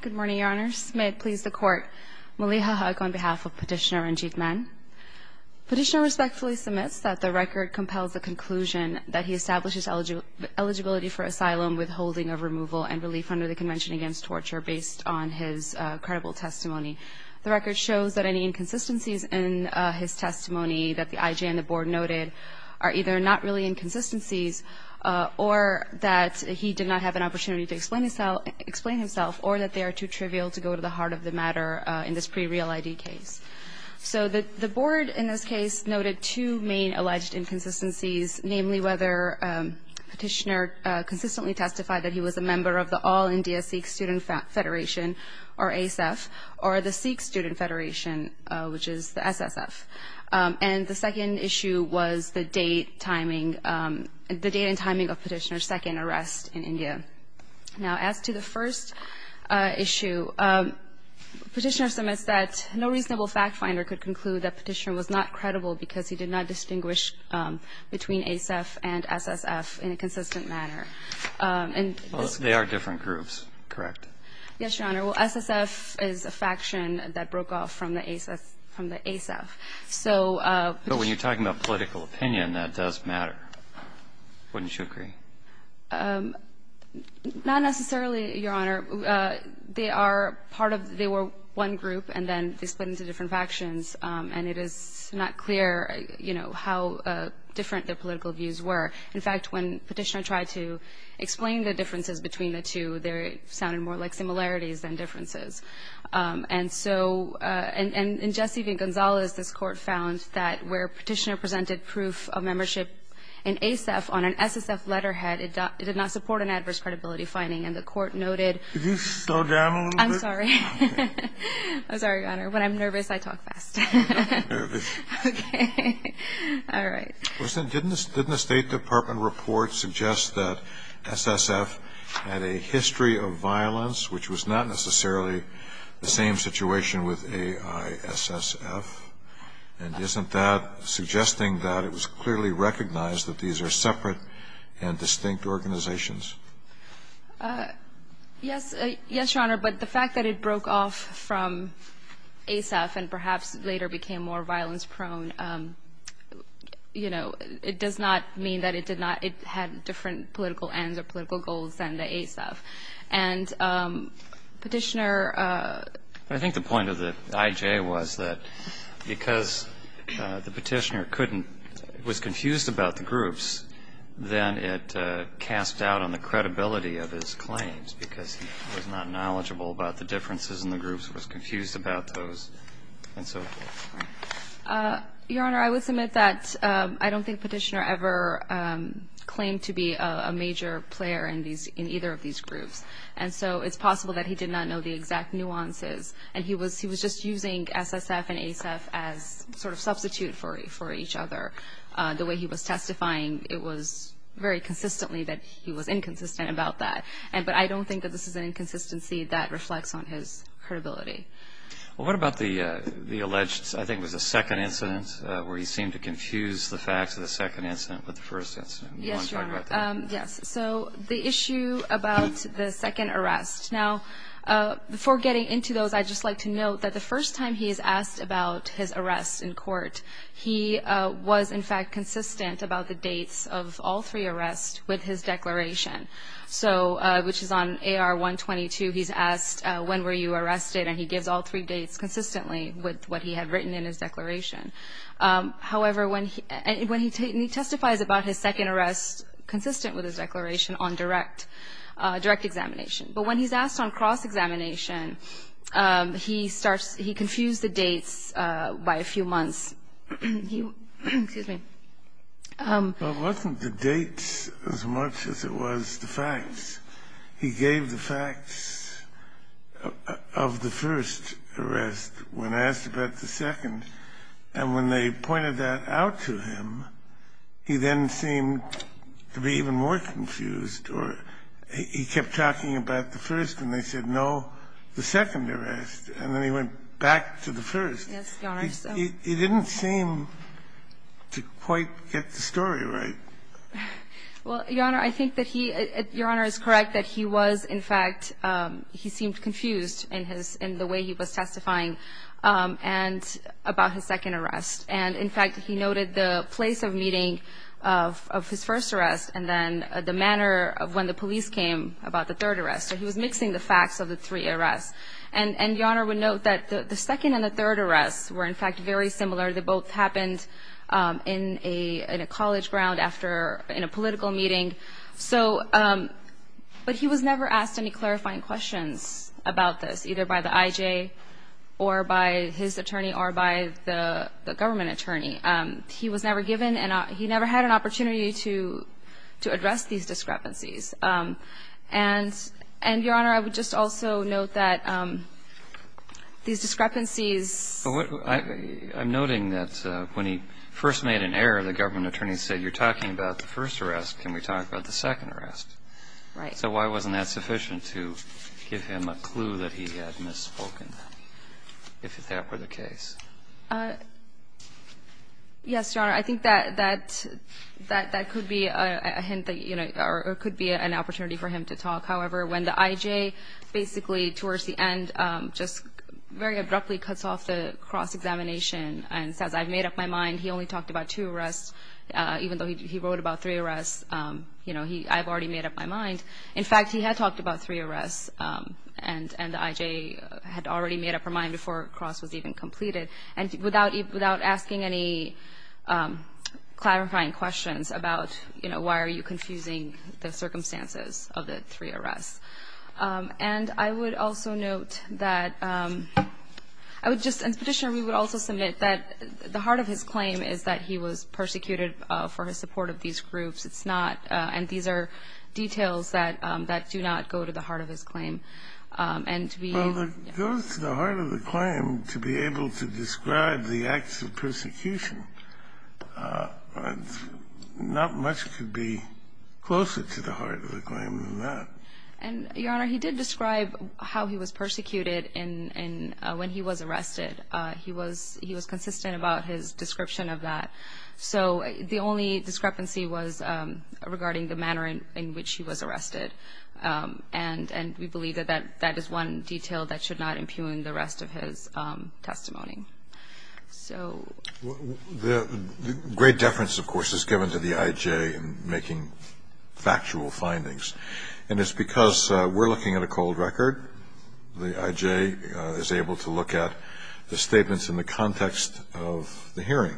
Good morning, Your Honor. May it please the Court, Maliha Hugg on behalf of Petitioner Ranjit Mann. Petitioner respectfully submits that the record compels the conclusion that he establishes eligibility for asylum, withholding of removal, and relief under the Convention Against Torture based on his credible testimony. The record shows that any inconsistencies in his testimony that the I.J. and the Board noted are either not really inconsistencies or that he did not have an opportunity to explain himself or that they are too trivial to go to the heart of the matter in this pre-real ID case. So the Board in this case noted two main alleged inconsistencies, namely whether Petitioner consistently testified that he was a member of the All India Sikh Student Federation, or ASF, or the Sikh Student Federation, which is the SSF. And the second issue was the date, timing, the date and timing of Petitioner's second arrest in India. Now, as to the first issue, Petitioner submits that no reasonable fact finder could conclude that Petitioner was not credible because he did not distinguish between ASF and SSF in a consistent manner. Yes, Your Honor. Well, SSF is a faction that broke off from the ASF. So Petitioner ---- But when you're talking about political opinion, that does matter. Wouldn't you agree? Not necessarily, Your Honor. They are part of the one group, and then they split into different factions. And it is not clear, you know, how different their political views were. In fact, when Petitioner tried to explain the differences between the two, they sounded more like similarities than differences. And so in Jesse v. Gonzalez, this Court found that where Petitioner presented proof of membership in ASF on an SSF letterhead, it did not support an adverse credibility finding. And the Court noted ---- Could you slow down a little bit? I'm sorry. I'm sorry, Your Honor. When I'm nervous, I talk fast. Okay. All right. Well, then, didn't the State Department report suggest that SSF had a history of violence which was not necessarily the same situation with AISSF? And isn't that suggesting that it was clearly recognized that these are separate and distinct organizations? Yes, Your Honor. But the fact that it broke off from ASF and perhaps later became more violence prone, you know, it does not mean that it did not ---- it had different political ends or political goals than the ASF. And Petitioner ---- I think the point of the IJ was that because the Petitioner couldn't ---- was confused about the groups, then it cast doubt on the credibility of his claims because he was not knowledgeable about the differences in the groups, was confused about those, and so forth. Your Honor, I would submit that I don't think Petitioner ever claimed to be a major player in either of these groups. And so it's possible that he did not know the exact nuances, and he was just using SSF and ASF as sort of substitute for each other. The way he was testifying, it was very consistently that he was inconsistent about that. But I don't think that this is an inconsistency that reflects on his credibility. Well, what about the alleged, I think it was the second incident, where he seemed to confuse the facts of the second incident with the first incident? Yes, Your Honor. Do you want to talk about that? Yes. So the issue about the second arrest. Now, before getting into those, I'd just like to note that the first time he is asked about his arrest in court, he was, in fact, consistent about the dates of all three arrests with his declaration, which is on AR-122. He's asked, when were you arrested, and he gives all three dates consistently with what he had written in his declaration. However, when he testifies about his second arrest, consistent with his declaration on direct examination. But when he's asked on cross-examination, he starts to confuse the dates by a few months. Excuse me. It wasn't the dates as much as it was the facts. He gave the facts of the first arrest when asked about the second. And when they pointed that out to him, he then seemed to be even more confused or he kept talking about the first and they said, no, the second arrest. And then he went back to the first. Yes, Your Honor. He didn't seem to quite get the story right. Well, Your Honor, I think that he, Your Honor is correct that he was, in fact, he seemed confused in his, in the way he was testifying and about his second arrest. And, in fact, he noted the place of meeting of his first arrest and then the manner of when the police came about the third arrest. So he was mixing the facts of the three arrests. And Your Honor would note that the second and the third arrests were, in fact, very similar. They both happened in a college ground after, in a political meeting. So, but he was never asked any clarifying questions about this, either by the I.J. or by his attorney or by the government attorney. He was never given and he never had an opportunity to address these discrepancies. And, Your Honor, I would just also note that these discrepancies. But I'm noting that when he first made an error, the government attorney said you're talking about the first arrest. Can we talk about the second arrest? Right. So why wasn't that sufficient to give him a clue that he had misspoken, if that were the case? Yes, Your Honor. I think that that could be a hint that, you know, or it could be an opportunity for him to talk. However, when the I.J. basically, towards the end, just very abruptly cuts off the cross-examination and says, I've made up my mind. He only talked about two arrests, even though he wrote about three arrests. You know, I've already made up my mind. In fact, he had talked about three arrests and the I.J. had already made up her mind before cross was even completed. And without asking any clarifying questions about, you know, why are you confusing the And I would also note that I would just, as Petitioner, we would also submit that the heart of his claim is that he was persecuted for his support of these groups. It's not, and these are details that do not go to the heart of his claim. And to be, yes. Well, it goes to the heart of the claim to be able to describe the acts of persecution. Not much could be closer to the heart of the claim than that. And, Your Honor, he did describe how he was persecuted and when he was arrested. He was consistent about his description of that. So the only discrepancy was regarding the manner in which he was arrested. And we believe that that is one detail that should not impugn the rest of his testimony. The great deference, of course, is given to the I.J. in making factual findings. And it's because we're looking at a cold record. The I.J. is able to look at the statements in the context of the hearing.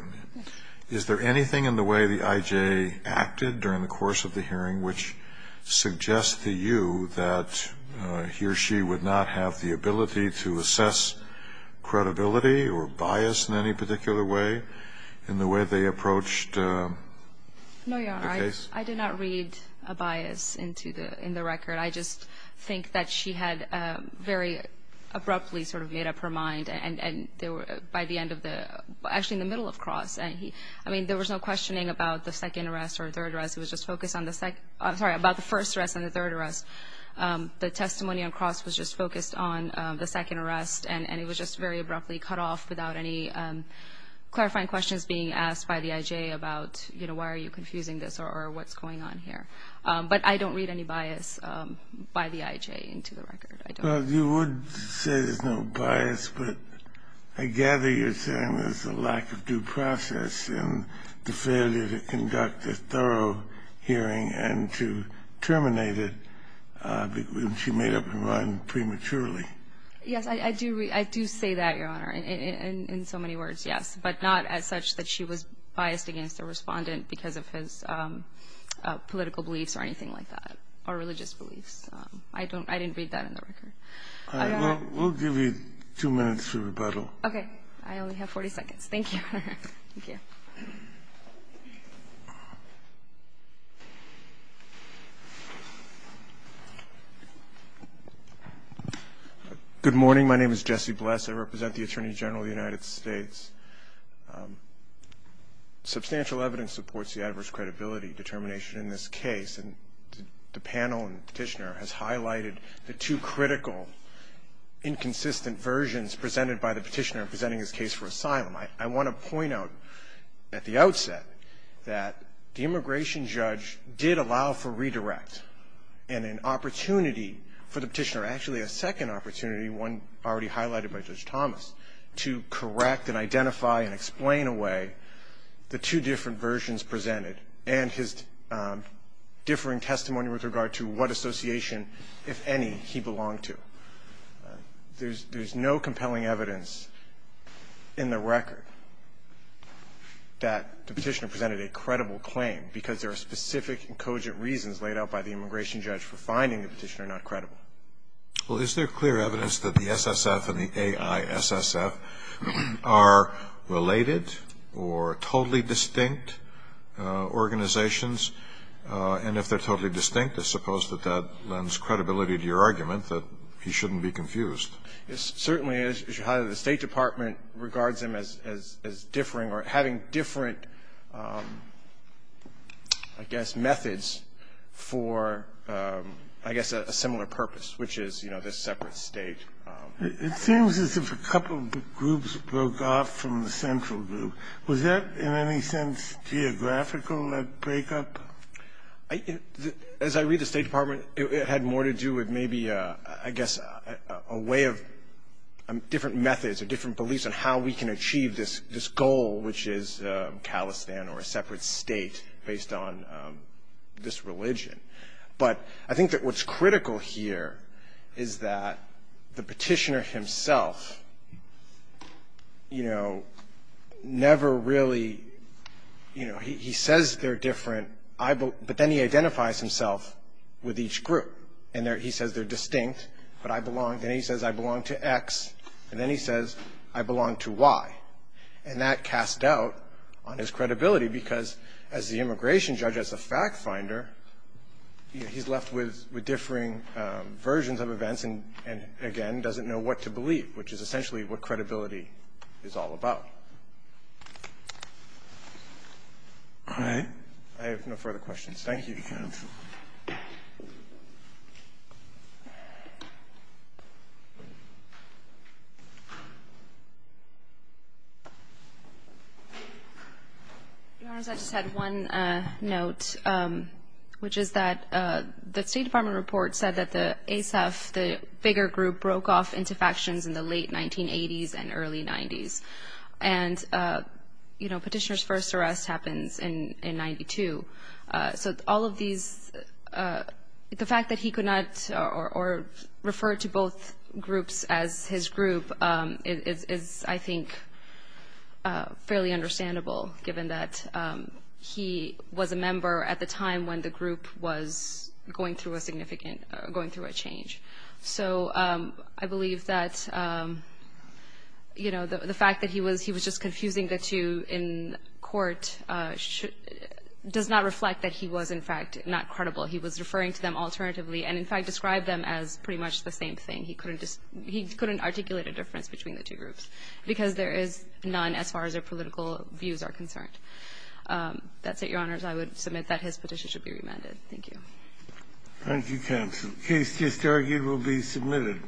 Is there anything in the way the I.J. acted during the course of the hearing which suggests to you that he or she would not have the ability to assess credibility or bias in any particular way in the way they approached the case? No, Your Honor. I did not read a bias into the record. I just think that she had very abruptly sort of made up her mind. And there were, by the end of the, actually in the middle of Cross, and he, I mean, there was no questioning about the second arrest or third arrest. It was just focused on the second, sorry, about the first arrest and the third arrest. The testimony on Cross was just focused on the second arrest. And it was just very abruptly cut off without any clarifying questions being asked by the I.J. about, you know, why are you confusing this or what's going on here. But I don't read any bias by the I.J. into the record. You would say there's no bias, but I gather you're saying there's a lack of due process in the failure to conduct a thorough hearing and to terminate it when she made up her mind prematurely. Yes, I do say that, Your Honor, in so many words, yes. But not as such that she was biased against the Respondent because of his political beliefs or anything like that or religious beliefs. I didn't read that in the record. All right. We'll give you two minutes for rebuttal. Okay. I only have 40 seconds. Thank you. Thank you. Thank you. Good morning. My name is Jesse Bless. I represent the Attorney General of the United States. Substantial evidence supports the adverse credibility determination in this case. And the panel and Petitioner has highlighted the two critical, I want to point out at the outset that the immigration judge did allow for redirect and an opportunity for the Petitioner, actually a second opportunity, one already highlighted by Judge Thomas, to correct and identify and explain away the two different versions presented and his differing testimony with regard to what association, if any, he belonged to. There's no compelling evidence in the record that the Petitioner presented a credible claim because there are specific and cogent reasons laid out by the immigration judge for finding the Petitioner not credible. Well, is there clear evidence that the SSF and the AISSF are related or totally distinct organizations? And if they're totally distinct, I suppose that that lends credibility to your argument that he shouldn't be confused. It certainly is. The State Department regards them as differing or having different, I guess, methods for, I guess, a similar purpose, which is, you know, this separate state. It seems as if a couple of groups broke off from the central group. Was that in any sense geographical, that breakup? As I read the State Department, it had more to do with maybe, I guess, a way of different methods or different beliefs on how we can achieve this goal, which is Khalistan or a separate state based on this religion. But I think that what's critical here is that the Petitioner himself, you know, never really, you know, he says they're different. But then he identifies himself with each group. And he says they're distinct, but I belong. Then he says I belong to X. And then he says I belong to Y. And that casts doubt on his credibility, because as the immigration judge, as a fact finder, he's left with differing versions of events and, again, doesn't know what to believe, which is essentially what credibility is all about. All right. I have no further questions. Thank you. Your Honors, I just had one note, which is that the State Department report said that the ASEF, the bigger group, broke off into factions in the late 1980s and early 90s. And, you know, Petitioner's first arrest happens in 92. So all of these, the fact that he could not or referred to both groups as his group is, I think, fairly understandable given that he was a member at the time when the group was going through a significant, going through a change. So I believe that, you know, the fact that he was just confusing the two in court does not reflect that he was, in fact, not credible. He was referring to them alternatively and, in fact, described them as pretty much the same thing. He couldn't articulate a difference between the two groups because there is none as far as their political views are concerned. That's it, Your Honors. I would submit that his petition should be remanded. Thank you. Thank you, Counsel. The case just argued will be submitted.